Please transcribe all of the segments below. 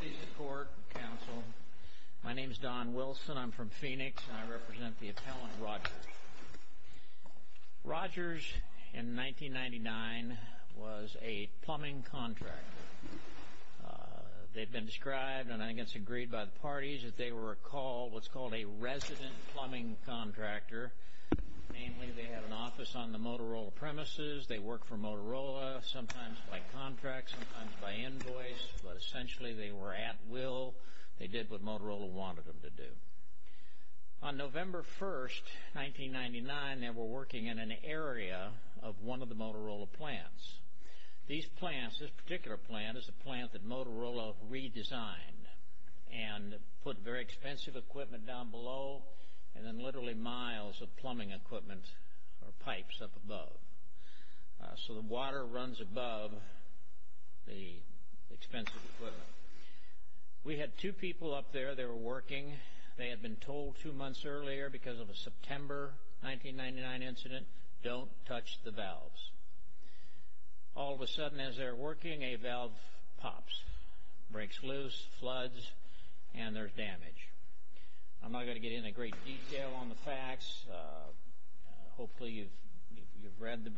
Please support, counsel. My name is Don Wilson. I'm from Phoenix, and I represent the appellant, Rogers. Rogers, in 1999, was a plumbing contractor. They've been described, and I think it's agreed by the parties, that they were what's called a resident plumbing contractor. Namely, they had an office on the Motorola premises. They worked for Motorola, sometimes by contract, sometimes by invoice, but essentially they were at will. They did what Motorola wanted them to do. On November 1, 1999, they were working in an area of one of the Motorola plants. This particular plant is a plant that Motorola redesigned and put very expensive equipment down below and then literally miles of plumbing equipment or pipes up above. So the water runs above the expensive equipment. We had two people up there. They were working. They had been told two months earlier, because of a September 1999 incident, don't touch the valves. All of a sudden, as they're working, a valve pops, breaks loose, floods, and there's damage. I'm not going to get into great detail on the facts. Hopefully you've read the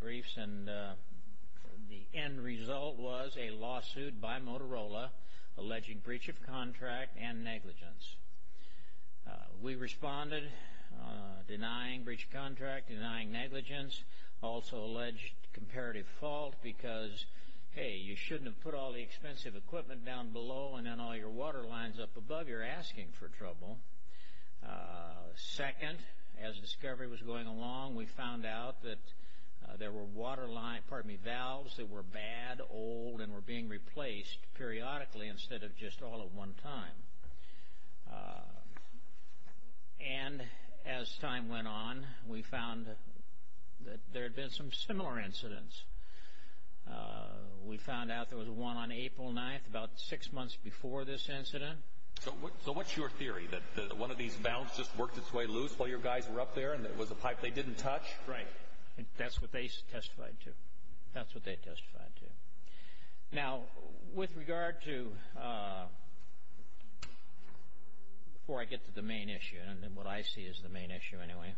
briefs, and the end result was a lawsuit by Motorola, alleging breach of contract and negligence. We responded, denying breach of contract, denying negligence. Also alleged comparative fault because, hey, you shouldn't have put all the expensive equipment down below and then all your water lines up above, you're asking for trouble. Second, as discovery was going along, we found out that there were valves that were bad, old, and were being replaced periodically instead of just all at one time. And as time went on, we found that there had been some similar incidents. We found out there was one on April 9th, about six months before this incident. So what's your theory, that one of these valves just worked its way loose while your guys were up there, and it was a pipe they didn't touch? Right. That's what they testified to. That's what they testified to. Now, with regard to, before I get to the main issue, and what I see as the main issue anyway,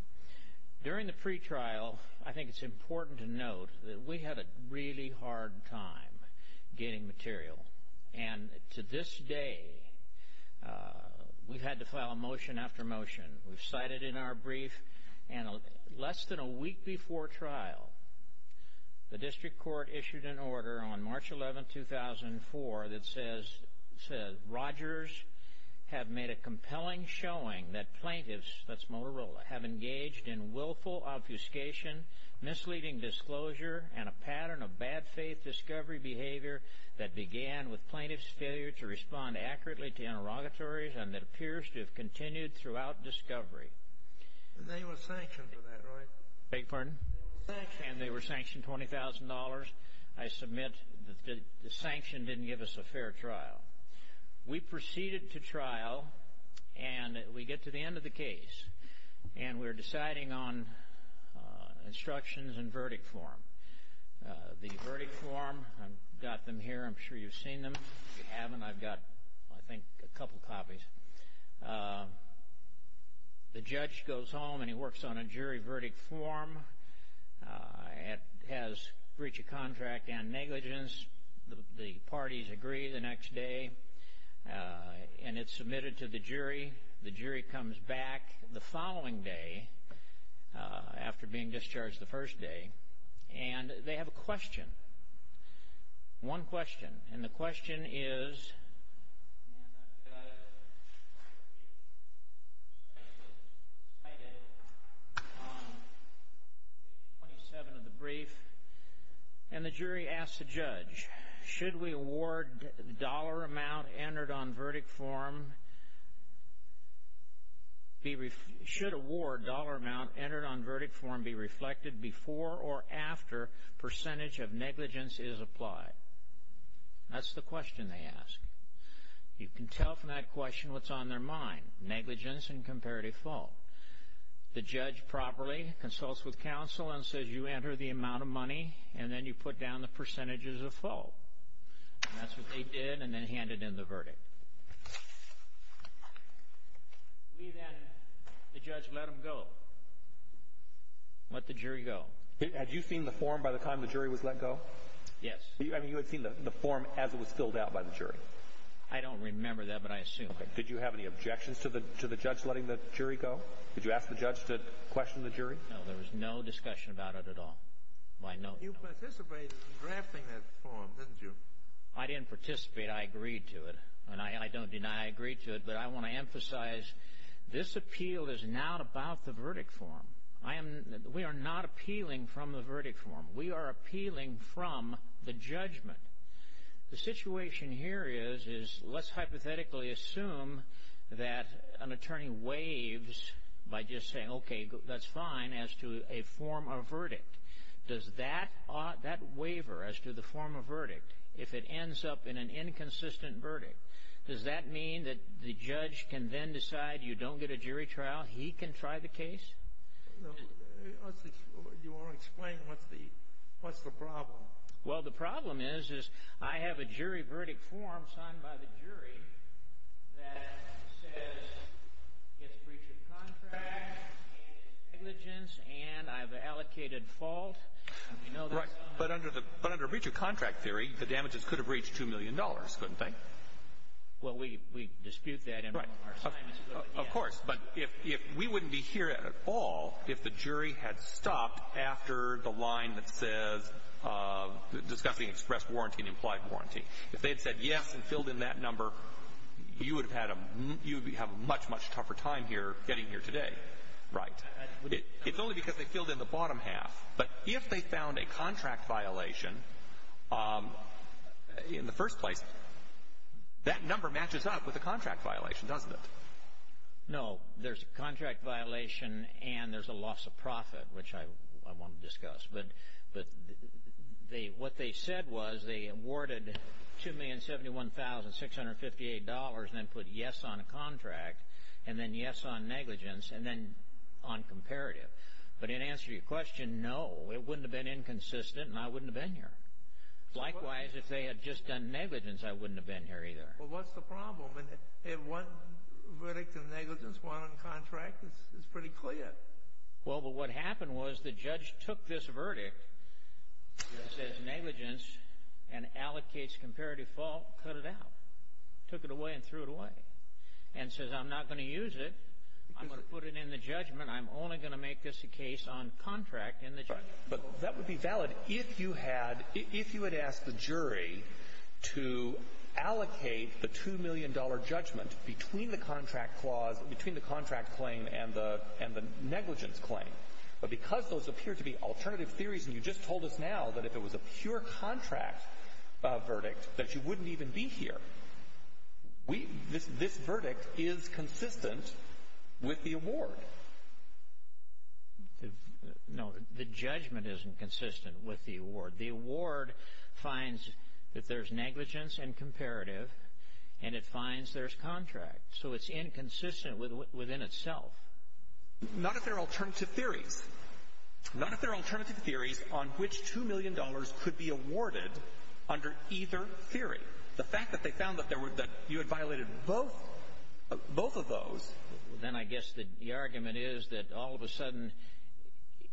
during the pretrial, I think it's important to note that we had a really hard time getting material. And to this day, we've had to file a motion after motion. We've cited in our brief, and less than a week before trial, the district court issued an order on March 11, 2004, that says, Rogers have made a compelling showing that plaintiffs, that's Motorola, have engaged in willful obfuscation, misleading disclosure, and a pattern of bad faith discovery behavior that began with plaintiffs' failure to respond accurately to interrogatories and that appears to have continued throughout discovery. They were sanctioned for that, right? Beg your pardon? They were sanctioned. I submit that the sanction didn't give us a fair trial. We proceeded to trial, and we get to the end of the case, and we're deciding on instructions and verdict form. The verdict form, I've got them here. I'm sure you've seen them. If you haven't, I've got, I think, a couple copies. The judge goes home, and he works on a jury verdict form. It has breach of contract and negligence. The parties agree the next day, and it's submitted to the jury. The jury comes back the following day, after being discharged the first day, and they have a question, one question. And the question is cited on page 27 of the brief. And the jury asks the judge, should award dollar amount entered on verdict form be reflected before or after percentage of negligence is applied? That's the question they ask. You can tell from that question what's on their mind, negligence and comparative fault. The judge properly consults with counsel and says, you enter the amount of money, and then you put down the percentages of fault. And that's what they did, and then handed in the verdict. We then, the judge let them go, let the jury go. Had you seen the form by the time the jury was let go? Yes. I mean, you had seen the form as it was filled out by the jury? I don't remember that, but I assume. Did you have any objections to the judge letting the jury go? Did you ask the judge to question the jury? No, there was no discussion about it at all, by no means. You participated in drafting that form, didn't you? I didn't participate. I agreed to it, and I don't deny I agreed to it. But I want to emphasize, this appeal is not about the verdict form. We are not appealing from the verdict form. We are appealing from the judgment. The situation here is, let's hypothetically assume that an attorney waives by just saying, okay, that's fine, as to a form of verdict. Does that waiver as to the form of verdict, if it ends up in an inconsistent verdict, does that mean that the judge can then decide you don't get a jury trial? He can try the case? You want to explain what's the problem? Well, the problem is, is I have a jury verdict form signed by the jury that says it's breach of contract, and it's negligence, and I've allocated fault. Right. But under breach of contract theory, the damages could have reached $2 million, couldn't they? Well, we dispute that. Of course. But if we wouldn't be here at all if the jury had stopped after the line that says discussing express warranty and implied warranty, if they had said yes and filled in that number, you would have had a much, much tougher time here getting here today. Right. It's only because they filled in the bottom half. But if they found a contract violation in the first place, that number matches up with a contract violation, doesn't it? No. There's a contract violation and there's a loss of profit, which I want to discuss. But what they said was they awarded $2,071,658 and then put yes on a contract and then yes on negligence and then on comparative. But in answer to your question, no, it wouldn't have been inconsistent and I wouldn't have been here. Likewise, if they had just done negligence, I wouldn't have been here either. Well, what's the problem? They have one verdict in negligence, one on contract. It's pretty clear. Well, but what happened was the judge took this verdict that says negligence and allocates comparative fault, cut it out, took it away and threw it away, and says I'm not going to use it. I'm going to put it in the judgment. I'm only going to make this a case on contract in the judgment. But that would be valid if you had asked the jury to allocate the $2 million judgment between the contract clause, between the contract claim and the negligence claim. But because those appear to be alternative theories and you just told us now that if it was a pure contract verdict that you wouldn't even be here. This verdict is consistent with the award. No, the judgment isn't consistent with the award. The award finds that there's negligence and comparative and it finds there's contract. So it's inconsistent within itself. Not if they're alternative theories. Not if they're alternative theories on which $2 million could be awarded under either theory. The fact that they found that you had violated both of those. Then I guess the argument is that all of a sudden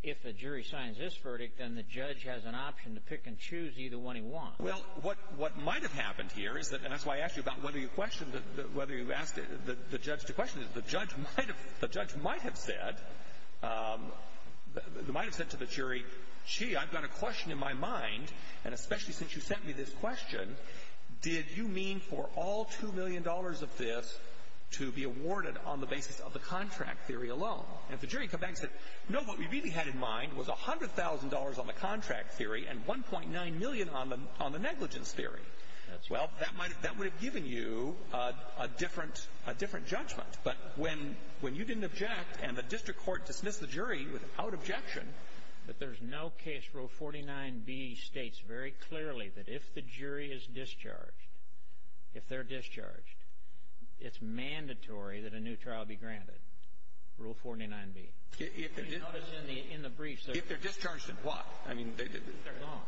if a jury signs this verdict, then the judge has an option to pick and choose either one he wants. Well, what might have happened here is that, and that's why I asked you about whether you questioned, whether you asked the judge to question it, the judge might have said to the jury, gee, I've got a question in my mind, and especially since you sent me this question, did you mean for all $2 million of this to be awarded on the basis of the contract theory alone? And if the jury came back and said, no, what we really had in mind was $100,000 on the contract theory and $1.9 million on the negligence theory. Well, that would have given you a different judgment. But when you didn't object and the district court dismissed the jury without objection. But there's no case Rule 49B states very clearly that if the jury is discharged, if they're discharged, it's mandatory that a new trial be granted, Rule 49B. If they're discharged in what? If they're gone.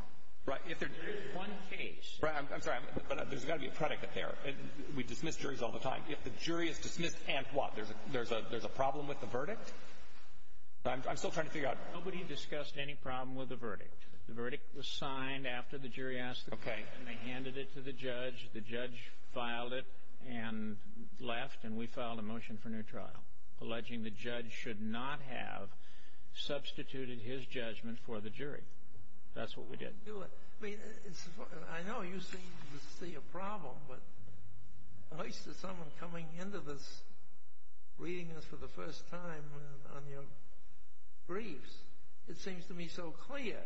There is one case. I'm sorry, but there's got to be a predicate there. We dismiss juries all the time. There's a problem with the verdict? I'm still trying to figure out. Nobody discussed any problem with the verdict. The verdict was signed after the jury asked the question. They handed it to the judge. The judge filed it and left, and we filed a motion for new trial, alleging the judge should not have substituted his judgment for the jury. That's what we did. I know you seem to see a problem, but at least there's someone coming into this, reading this for the first time on your briefs. It seems to me so clear.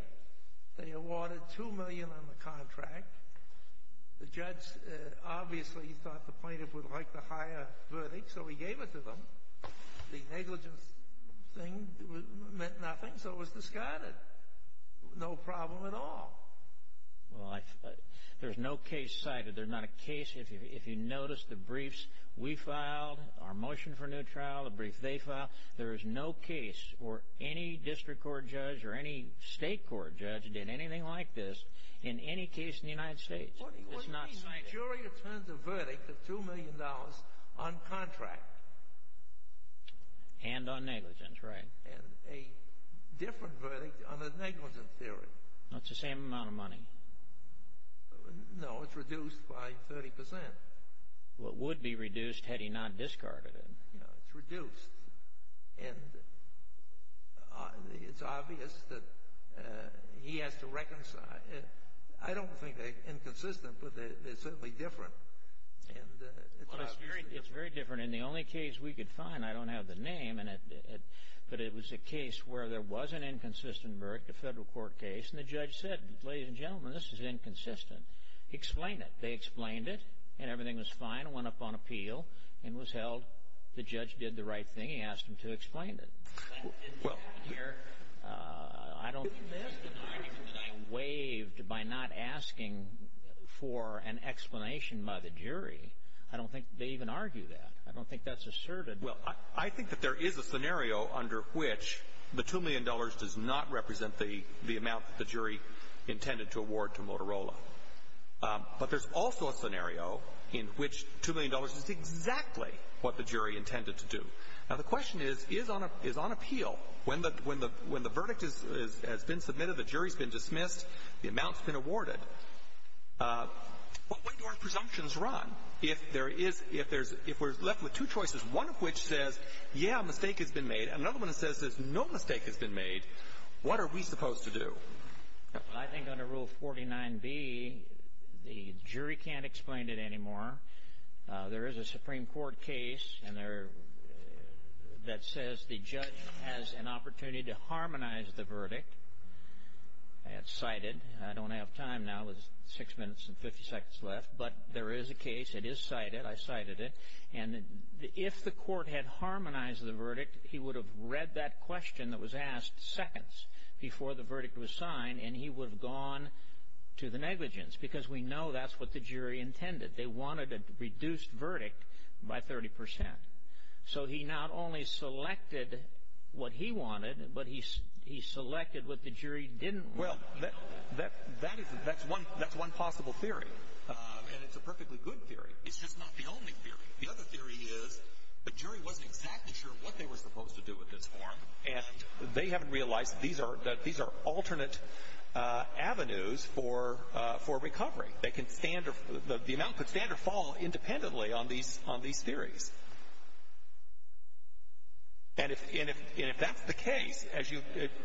They awarded $2 million on the contract. The judge obviously thought the plaintiff would like the higher verdict, so he gave it to them. The negligence thing meant nothing, so it was discarded. No problem at all. Well, there's no case cited. There's not a case. If you notice the briefs we filed, our motion for new trial, the brief they filed, there is no case where any district court judge or any state court judge did anything like this in any case in the United States. It's not cited. The jury returns a verdict of $2 million on contract. And on negligence, right. And a different verdict on the negligence theory. It's the same amount of money. No, it's reduced by 30%. Well, it would be reduced had he not discarded it. It's reduced. And it's obvious that he has to reconcile. I don't think they're inconsistent, but they're certainly different. It's very different. In the only case we could find, I don't have the name, but it was a case where there was an inconsistent verdict, a federal court case, and the judge said, ladies and gentlemen, this is inconsistent. He explained it. They explained it, and everything was fine. It went up on appeal and was held. The judge did the right thing. He asked them to explain it. Well, here, I don't think there's an argument that I waived by not asking for an explanation by the jury. I don't think they even argue that. I don't think that's asserted. Well, I think that there is a scenario under which the $2 million does not represent the amount that the jury intended to award to Motorola. But there's also a scenario in which $2 million is exactly what the jury intended to do. Now, the question is, is on appeal. When the verdict has been submitted, the jury's been dismissed, the amount's been awarded, what way do our presumptions run? If we're left with two choices, one of which says, yeah, a mistake has been made, and another one says there's no mistake has been made, what are we supposed to do? I think under Rule 49B, the jury can't explain it anymore. There is a Supreme Court case that says the judge has an opportunity to harmonize the verdict. It's cited. I don't have time now. There's six minutes and 50 seconds left. But there is a case. It is cited. I cited it. And if the court had harmonized the verdict, he would have read that question that was asked seconds before the verdict was signed, and he would have gone to the negligence because we know that's what the jury intended. They wanted a reduced verdict by 30 percent. So he not only selected what he wanted, but he selected what the jury didn't want. Well, that's one possible theory. And it's a perfectly good theory. It's just not the only theory. The other theory is the jury wasn't exactly sure what they were supposed to do with this form, and they haven't realized that these are alternate avenues for recovery. The amount could stand or fall independently on these theories. And if that's the case,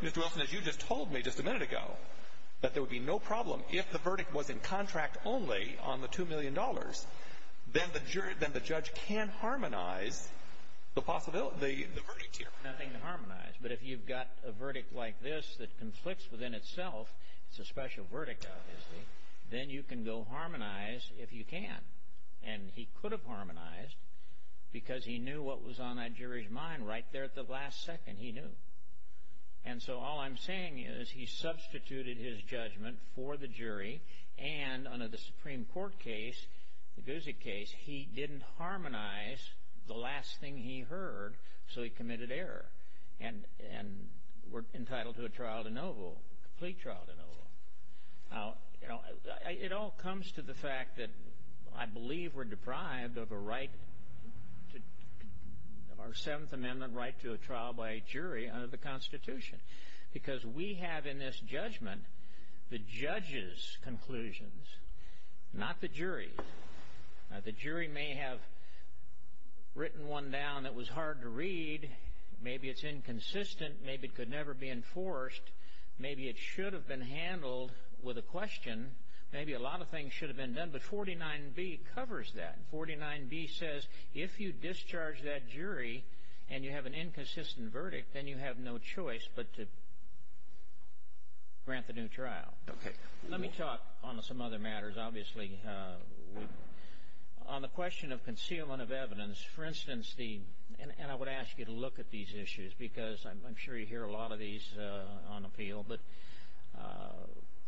Mr. Wilson, as you just told me just a minute ago, that there would be no problem. If the verdict was in contract only on the $2 million, then the judge can harmonize the verdict here. Nothing to harmonize. But if you've got a verdict like this that conflicts within itself, it's a special verdict, obviously, then you can go harmonize if you can. And he could have harmonized because he knew what was on that jury's mind right there at the last second. He knew. And so all I'm saying is he substituted his judgment for the jury, and under the Supreme Court case, the Guzik case, he didn't harmonize the last thing he heard, so he committed error and were entitled to a trial de novo, a complete trial de novo. It all comes to the fact that I believe we're deprived of a right, our Seventh Amendment right to a trial by a jury under the Constitution because we have in this judgment the judge's conclusions, not the jury's. The jury may have written one down that was hard to read. Maybe it's inconsistent. Maybe it could never be enforced. Maybe it should have been handled with a question. Maybe a lot of things should have been done, but 49B covers that. 49B says if you discharge that jury and you have an inconsistent verdict, then you have no choice but to grant the new trial. Okay. Let me talk on some other matters, obviously. On the question of concealment of evidence, for instance, and I would ask you to look at these issues because I'm sure you hear a lot of these on the field, but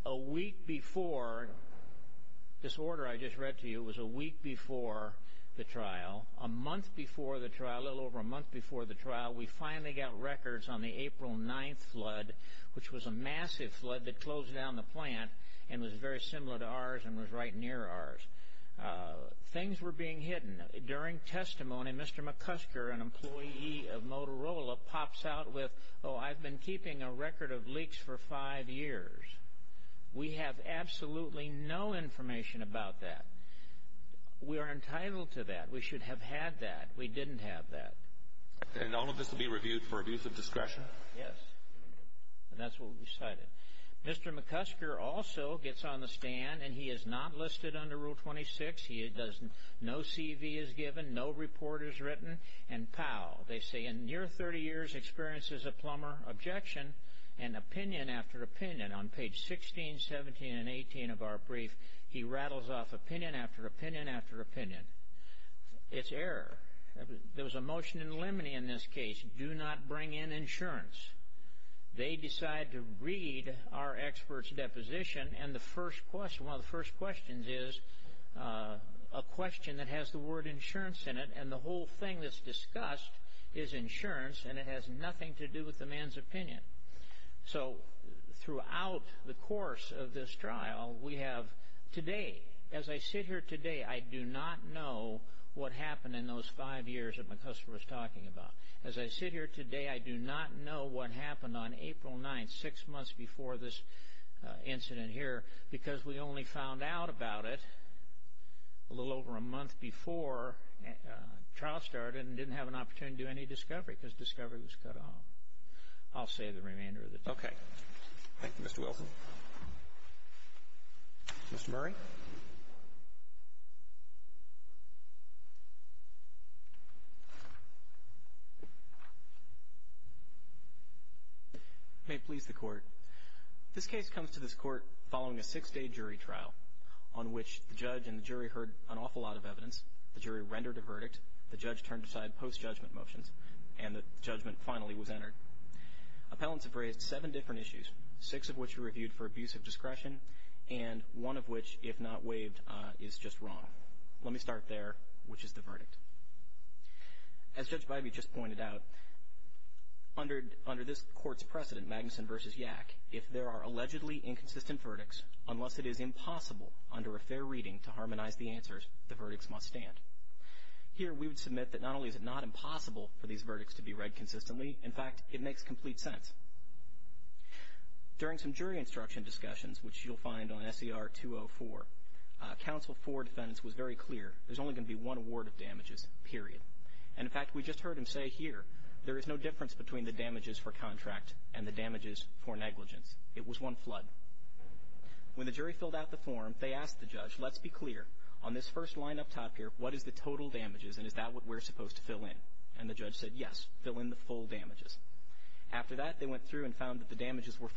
a week before this order I just read to you was a week before the trial, a month before the trial, a little over a month before the trial, we finally got records on the April 9th flood, which was a massive flood that closed down the plant and was very similar to ours and was right near ours. Things were being hidden. During testimony, Mr. McCusker, an employee of Motorola, pops out with, oh, I've been keeping a record of leaks for five years. We have absolutely no information about that. We are entitled to that. We should have had that. We didn't have that. And all of this will be reviewed for abuse of discretion? Yes, and that's what we decided. Mr. McCusker also gets on the stand, and he is not listed under Rule 26. No CV is given, no report is written, and pow. They say in near 30 years, experiences a plumber objection, and opinion after opinion on page 16, 17, and 18 of our brief, he rattles off opinion after opinion after opinion. It's error. There was a motion in Lemony in this case, do not bring in insurance. They decide to read our expert's deposition, and one of the first questions is a question that has the word insurance in it, and the whole thing that's discussed is insurance, and it has nothing to do with the man's opinion. So throughout the course of this trial, we have today, as I sit here today, I do not know what happened in those five years that McCusker was talking about. As I sit here today, I do not know what happened on April 9th, six months before this incident here, because we only found out about it a little over a month before trial started and didn't have an opportunity to do any discovery because discovery was cut off. I'll say the remainder of the time. Okay. Thank you, Mr. Wilson. Mr. Murray? Thank you. May it please the Court. This case comes to this Court following a six-day jury trial on which the judge and the jury heard an awful lot of evidence, the jury rendered a verdict, the judge turned aside post-judgment motions, and the judgment finally was entered. Appellants have raised seven different issues, six of which were reviewed for abuse of discretion and one of which, if not waived, is just wrong. Let me start there, which is the verdict. As Judge Bybee just pointed out, under this Court's precedent, Magnuson v. Yak, if there are allegedly inconsistent verdicts, unless it is impossible under a fair reading to harmonize the answers, the verdicts must stand. Here, we would submit that not only is it not impossible for these verdicts to be read consistently, in fact, it makes complete sense. During some jury instruction discussions, which you'll find on S.E.R. 204, counsel for defendants was very clear, there's only going to be one award of damages, period. And, in fact, we just heard him say here, there is no difference between the damages for contract and the damages for negligence. It was one flood. When the jury filled out the form, they asked the judge, let's be clear on this first line up top here, what is the total damages and is that what we're supposed to fill in? And the judge said, yes, fill in the full damages. After that, they went through and found that the damages were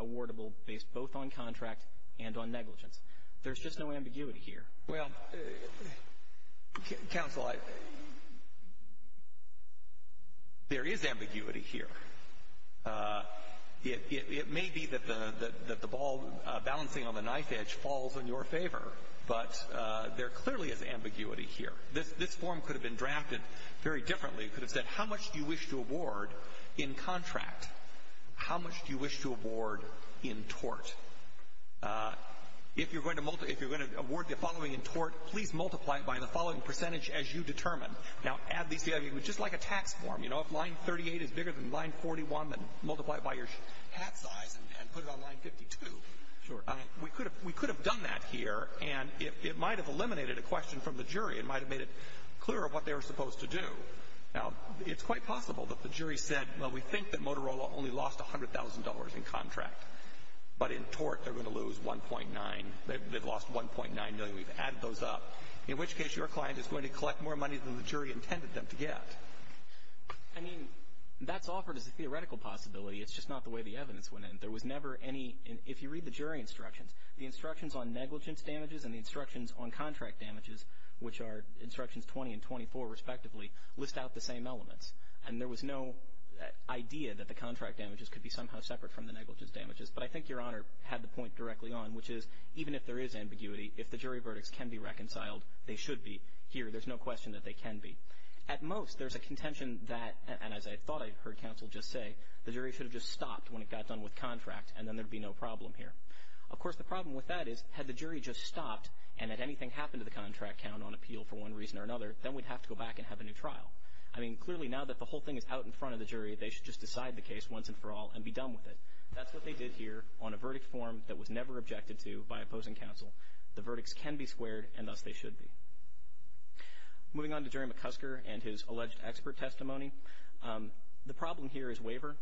awardable based both on contract and on negligence. There's just no ambiguity here. Well, counsel, there is ambiguity here. It may be that the ball balancing on the knife edge falls in your favor, but there clearly is ambiguity here. This form could have been drafted very differently. It could have said, how much do you wish to award in contract? How much do you wish to award in tort? If you're going to award the following in tort, please multiply it by the following percentage as you determine. Now, at least it would be just like a tax form. You know, if line 38 is bigger than line 41, then multiply it by your hat size and put it on line 52. We could have done that here, and it might have eliminated a question from the jury. It might have made it clearer what they were supposed to do. Now, it's quite possible that the jury said, well, we think that Motorola only lost $100,000 in contract, but in tort they're going to lose 1.9. They've lost 1.9 million. We've added those up, in which case your client is going to collect more money than the jury intended them to get. I mean, that's offered as a theoretical possibility. It's just not the way the evidence went in. There was never any – if you read the jury instructions, the instructions on negligence damages and the instructions on contract damages, which are instructions 20 and 24 respectively, list out the same elements. And there was no idea that the contract damages could be somehow separate from the negligence damages. But I think Your Honor had the point directly on, which is even if there is ambiguity, if the jury verdicts can be reconciled, they should be here. There's no question that they can be. At most, there's a contention that, and as I thought I heard counsel just say, the jury should have just stopped when it got done with contract, and then there would be no problem here. Of course, the problem with that is, had the jury just stopped, and had anything happened to the contract count on appeal for one reason or another, then we'd have to go back and have a new trial. I mean, clearly now that the whole thing is out in front of the jury, they should just decide the case once and for all and be done with it. That's what they did here on a verdict form that was never objected to by opposing counsel. The verdicts can be squared, and thus they should be. Moving on to Jerry McCusker and his alleged expert testimony, the problem here is waiver.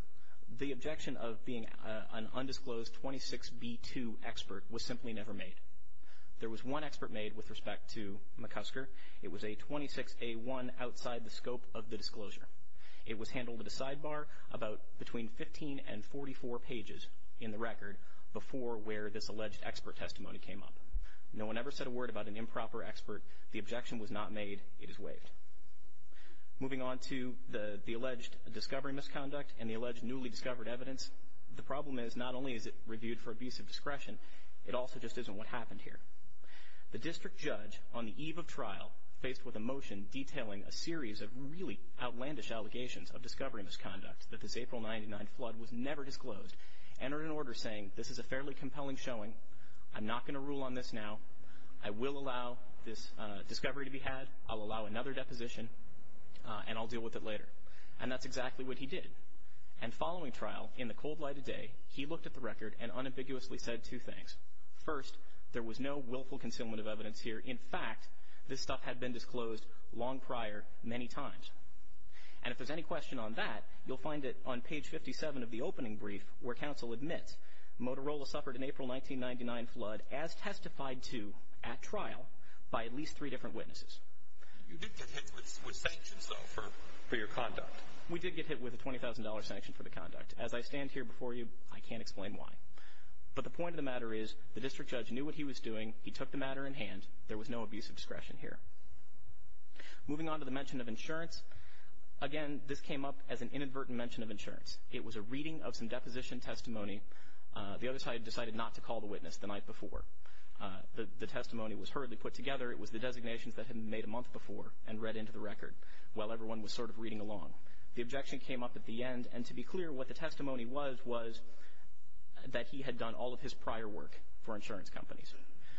The objection of being an undisclosed 26B2 expert was simply never made. There was one expert made with respect to McCusker. It was a 26A1 outside the scope of the disclosure. It was handled at a sidebar about between 15 and 44 pages in the record before where this alleged expert testimony came up. No one ever said a word about an improper expert. The objection was not made. It is waived. Moving on to the alleged discovery misconduct and the alleged newly discovered evidence, the problem is not only is it reviewed for abusive discretion, it also just isn't what happened here. The district judge on the eve of trial, faced with a motion detailing a series of really outlandish allegations of discovery misconduct that this April 99 flood was never disclosed, entered an order saying this is a fairly compelling showing. I'm not going to rule on this now. I will allow this discovery to be had. I'll allow another deposition, and I'll deal with it later. And that's exactly what he did. And following trial, in the cold light of day, he looked at the record and unambiguously said two things. First, there was no willful concealment of evidence here. In fact, this stuff had been disclosed long prior many times. And if there's any question on that, you'll find it on page 57 of the opening brief where counsel admits Motorola suffered an April 1999 flood as testified to at trial by at least three different witnesses. You did get hit with sanctions, though, for your conduct. We did get hit with a $20,000 sanction for the conduct. As I stand here before you, I can't explain why. But the point of the matter is the district judge knew what he was doing. He took the matter in hand. There was no abusive discretion here. Moving on to the mention of insurance, again, this came up as an inadvertent mention of insurance. It was a reading of some deposition testimony. The other side decided not to call the witness the night before. The testimony was hurriedly put together. It was the designations that had been made a month before and read into the record while everyone was sort of reading along. The objection came up at the end, and to be clear, what the testimony was was that he had done all of his prior work for insurance companies.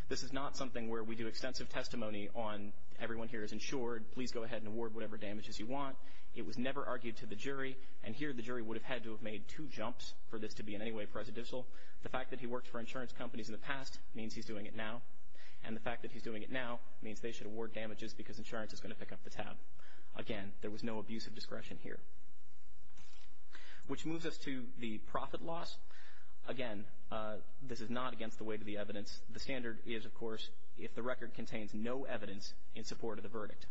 This is not something where we do extensive testimony on everyone here is insured. Please go ahead and award whatever damages you want. It was never argued to the jury. And here the jury would have had to have made two jumps for this to be in any way presidential. The fact that he worked for insurance companies in the past means he's doing it now, and the fact that he's doing it now means they should award damages because insurance is going to pick up the tab. Again, there was no abusive discretion here. Which moves us to the profit loss. Again, this is not against the weight of the evidence. The standard is, of course, if the record contains no evidence in support of the verdict.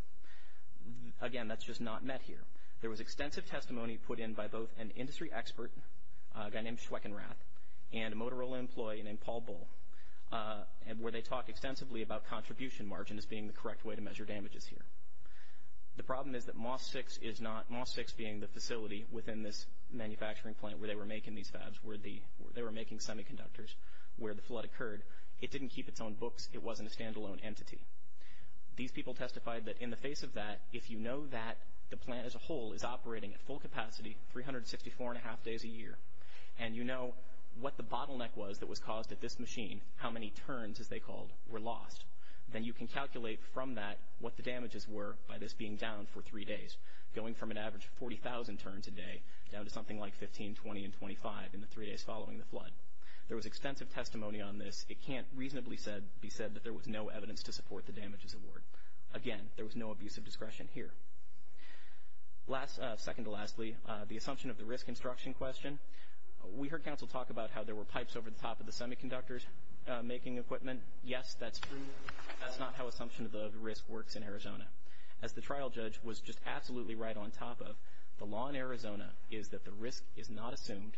Again, that's just not met here. There was extensive testimony put in by both an industry expert, a guy named Schweckenrath, and a Motorola employee named Paul Bull, where they talked extensively about contribution margin as being the correct way to measure damages here. The problem is that MOSFIX being the facility within this manufacturing plant where they were making these fabs, where they were making semiconductors where the flood occurred, it didn't keep its own books. It wasn't a standalone entity. These people testified that in the face of that, if you know that the plant as a whole is operating at full capacity 364.5 days a year, and you know what the bottleneck was that was caused at this machine, how many turns, as they called, were lost, then you can calculate from that what the damages were by this being down for three days, going from an average of 40,000 turns a day down to something like 15, 20, and 25 in the three days following the flood. There was extensive testimony on this. It can't reasonably be said that there was no evidence to support the damages award. Again, there was no abuse of discretion here. Second to lastly, the assumption of the risk instruction question. We heard counsel talk about how there were pipes over the top of the semiconductors making equipment. Yes, that's true. That's not how assumption of the risk works in Arizona. As the trial judge was just absolutely right on top of, the law in Arizona is that the risk is not assumed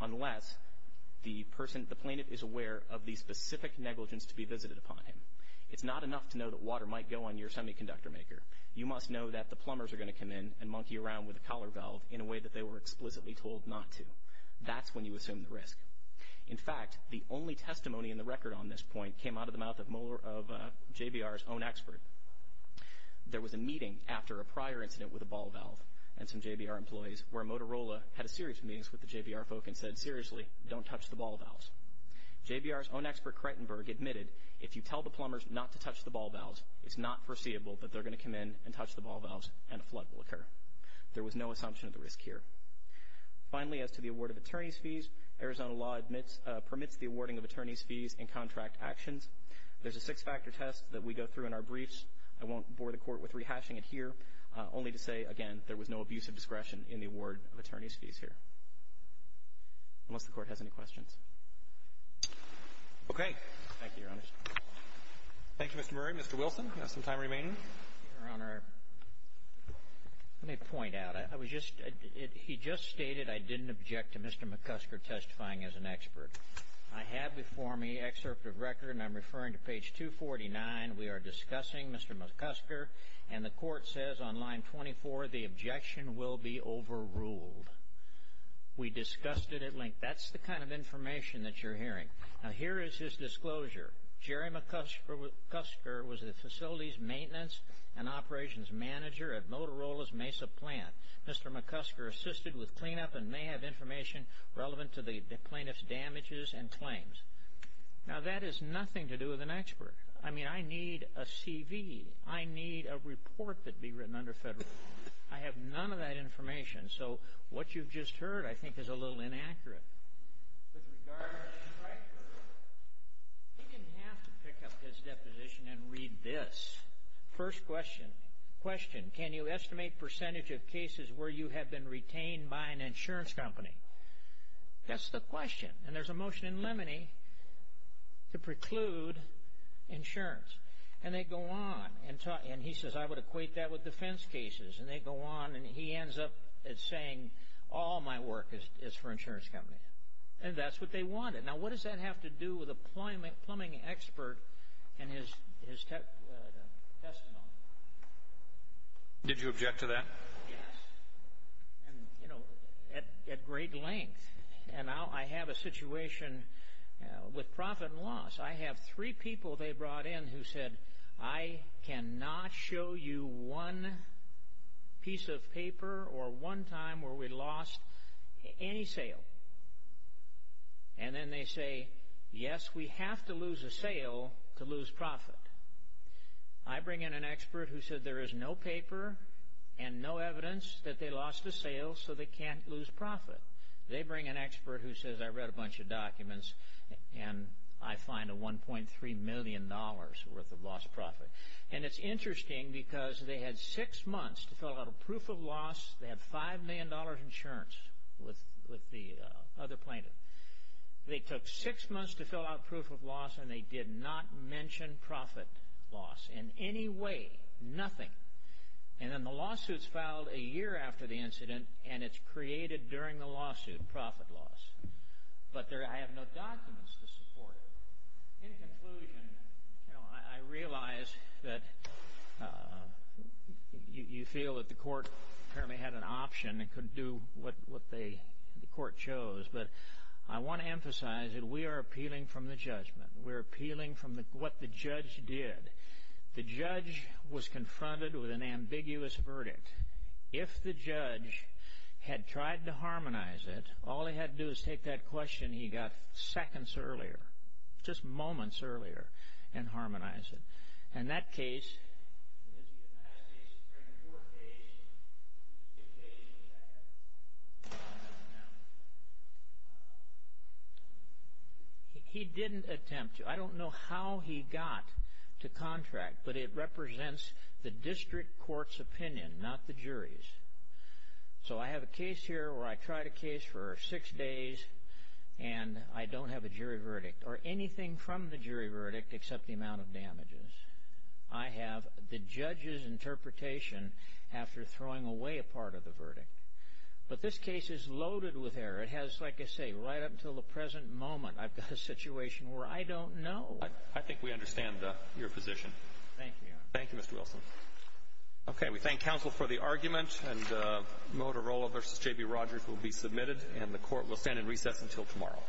unless the person, the plaintiff, is aware of the specific negligence to be visited upon him. It's not enough to know that water might go on your semiconductor maker. You must know that the plumbers are going to come in and monkey around with the collar valve in a way that they were explicitly told not to. That's when you assume the risk. In fact, the only testimony in the record on this point came out of the mouth of JBR's own expert. There was a meeting after a prior incident with a ball valve and some JBR employees where Motorola had a series of meetings with the JBR folk and said, seriously, don't touch the ball valves. JBR's own expert, Creighton Berg, admitted, if you tell the plumbers not to touch the ball valves, it's not foreseeable that they're going to come in and touch the ball valves and a flood will occur. There was no assumption of the risk here. Finally, as to the award of attorney's fees, Arizona law permits the awarding of attorney's fees in contract actions. There's a six-factor test that we go through in our briefs. I won't bore the Court with rehashing it here, only to say, again, there was no abuse of discretion in the award of attorney's fees here, unless the Court has any questions. Okay. Thank you, Your Honor. Thank you, Mr. Murray. Mr. Wilson, you have some time remaining. Your Honor, let me point out. I was just – he just stated I didn't object to Mr. McCusker testifying as an expert. I have before me excerpt of record, and I'm referring to page 249. We are discussing Mr. McCusker, and the Court says on line 24, the objection will be overruled. We discussed it at length. That's the kind of information that you're hearing. Now, here is his disclosure. Jerry McCusker was the facilities maintenance and operations manager at Motorola's Mesa plant. Mr. McCusker assisted with cleanup and may have information relevant to the plaintiff's damages and claims. Now, that has nothing to do with an expert. I mean, I need a CV. I need a report that be written under federal law. I have none of that information. So, what you've just heard, I think, is a little inaccurate. With regard to his record, he didn't have to pick up his deposition and read this. First question, question, can you estimate percentage of cases where you have been retained by an insurance company? That's the question. And there's a motion in limine to preclude insurance. And they go on. And he says, I would equate that with defense cases. And they go on, and he ends up saying, all my work is for insurance companies. And that's what they wanted. Now, what does that have to do with a plumbing expert and his testimony? Did you object to that? Yes. And, you know, at great length. And I have a situation with profit and loss. I have three people they brought in who said, I cannot show you one piece of paper or one time where we lost any sale. And then they say, yes, we have to lose a sale to lose profit. I bring in an expert who said there is no paper and no evidence that they lost a sale so they can't lose profit. They bring an expert who says, I read a bunch of documents, and I find a $1.3 million worth of lost profit. And it's interesting because they had six months to fill out a proof of loss. They have $5 million insurance with the other plaintiff. They took six months to fill out proof of loss, and they did not mention profit loss in any way, nothing. And then the lawsuit is filed a year after the incident, and it's created during the lawsuit, profit loss. But I have no documents to support it. In conclusion, you know, I realize that you feel that the court apparently had an option. It couldn't do what the court chose. But I want to emphasize that we are appealing from the judgment. We're appealing from what the judge did. The judge was confronted with an ambiguous verdict. If the judge had tried to harmonize it, all he had to do is take that question he got seconds earlier, just moments earlier, and harmonize it. In that case, he didn't attempt to. I don't know how he got to contract, but it represents the district court's opinion, not the jury's. So I have a case here where I tried a case for six days, and I don't have a jury verdict or anything from the jury verdict except the amount of damages. I have the judge's interpretation after throwing away a part of the verdict. But this case is loaded with error. It has, like I say, right up until the present moment, I've got a situation where I don't know. I think we understand your position. Thank you. Thank you, Mr. Wilson. Okay, we thank counsel for the argument. And Motorola v. J.B. Rogers will be submitted, and the court will stand in recess until tomorrow.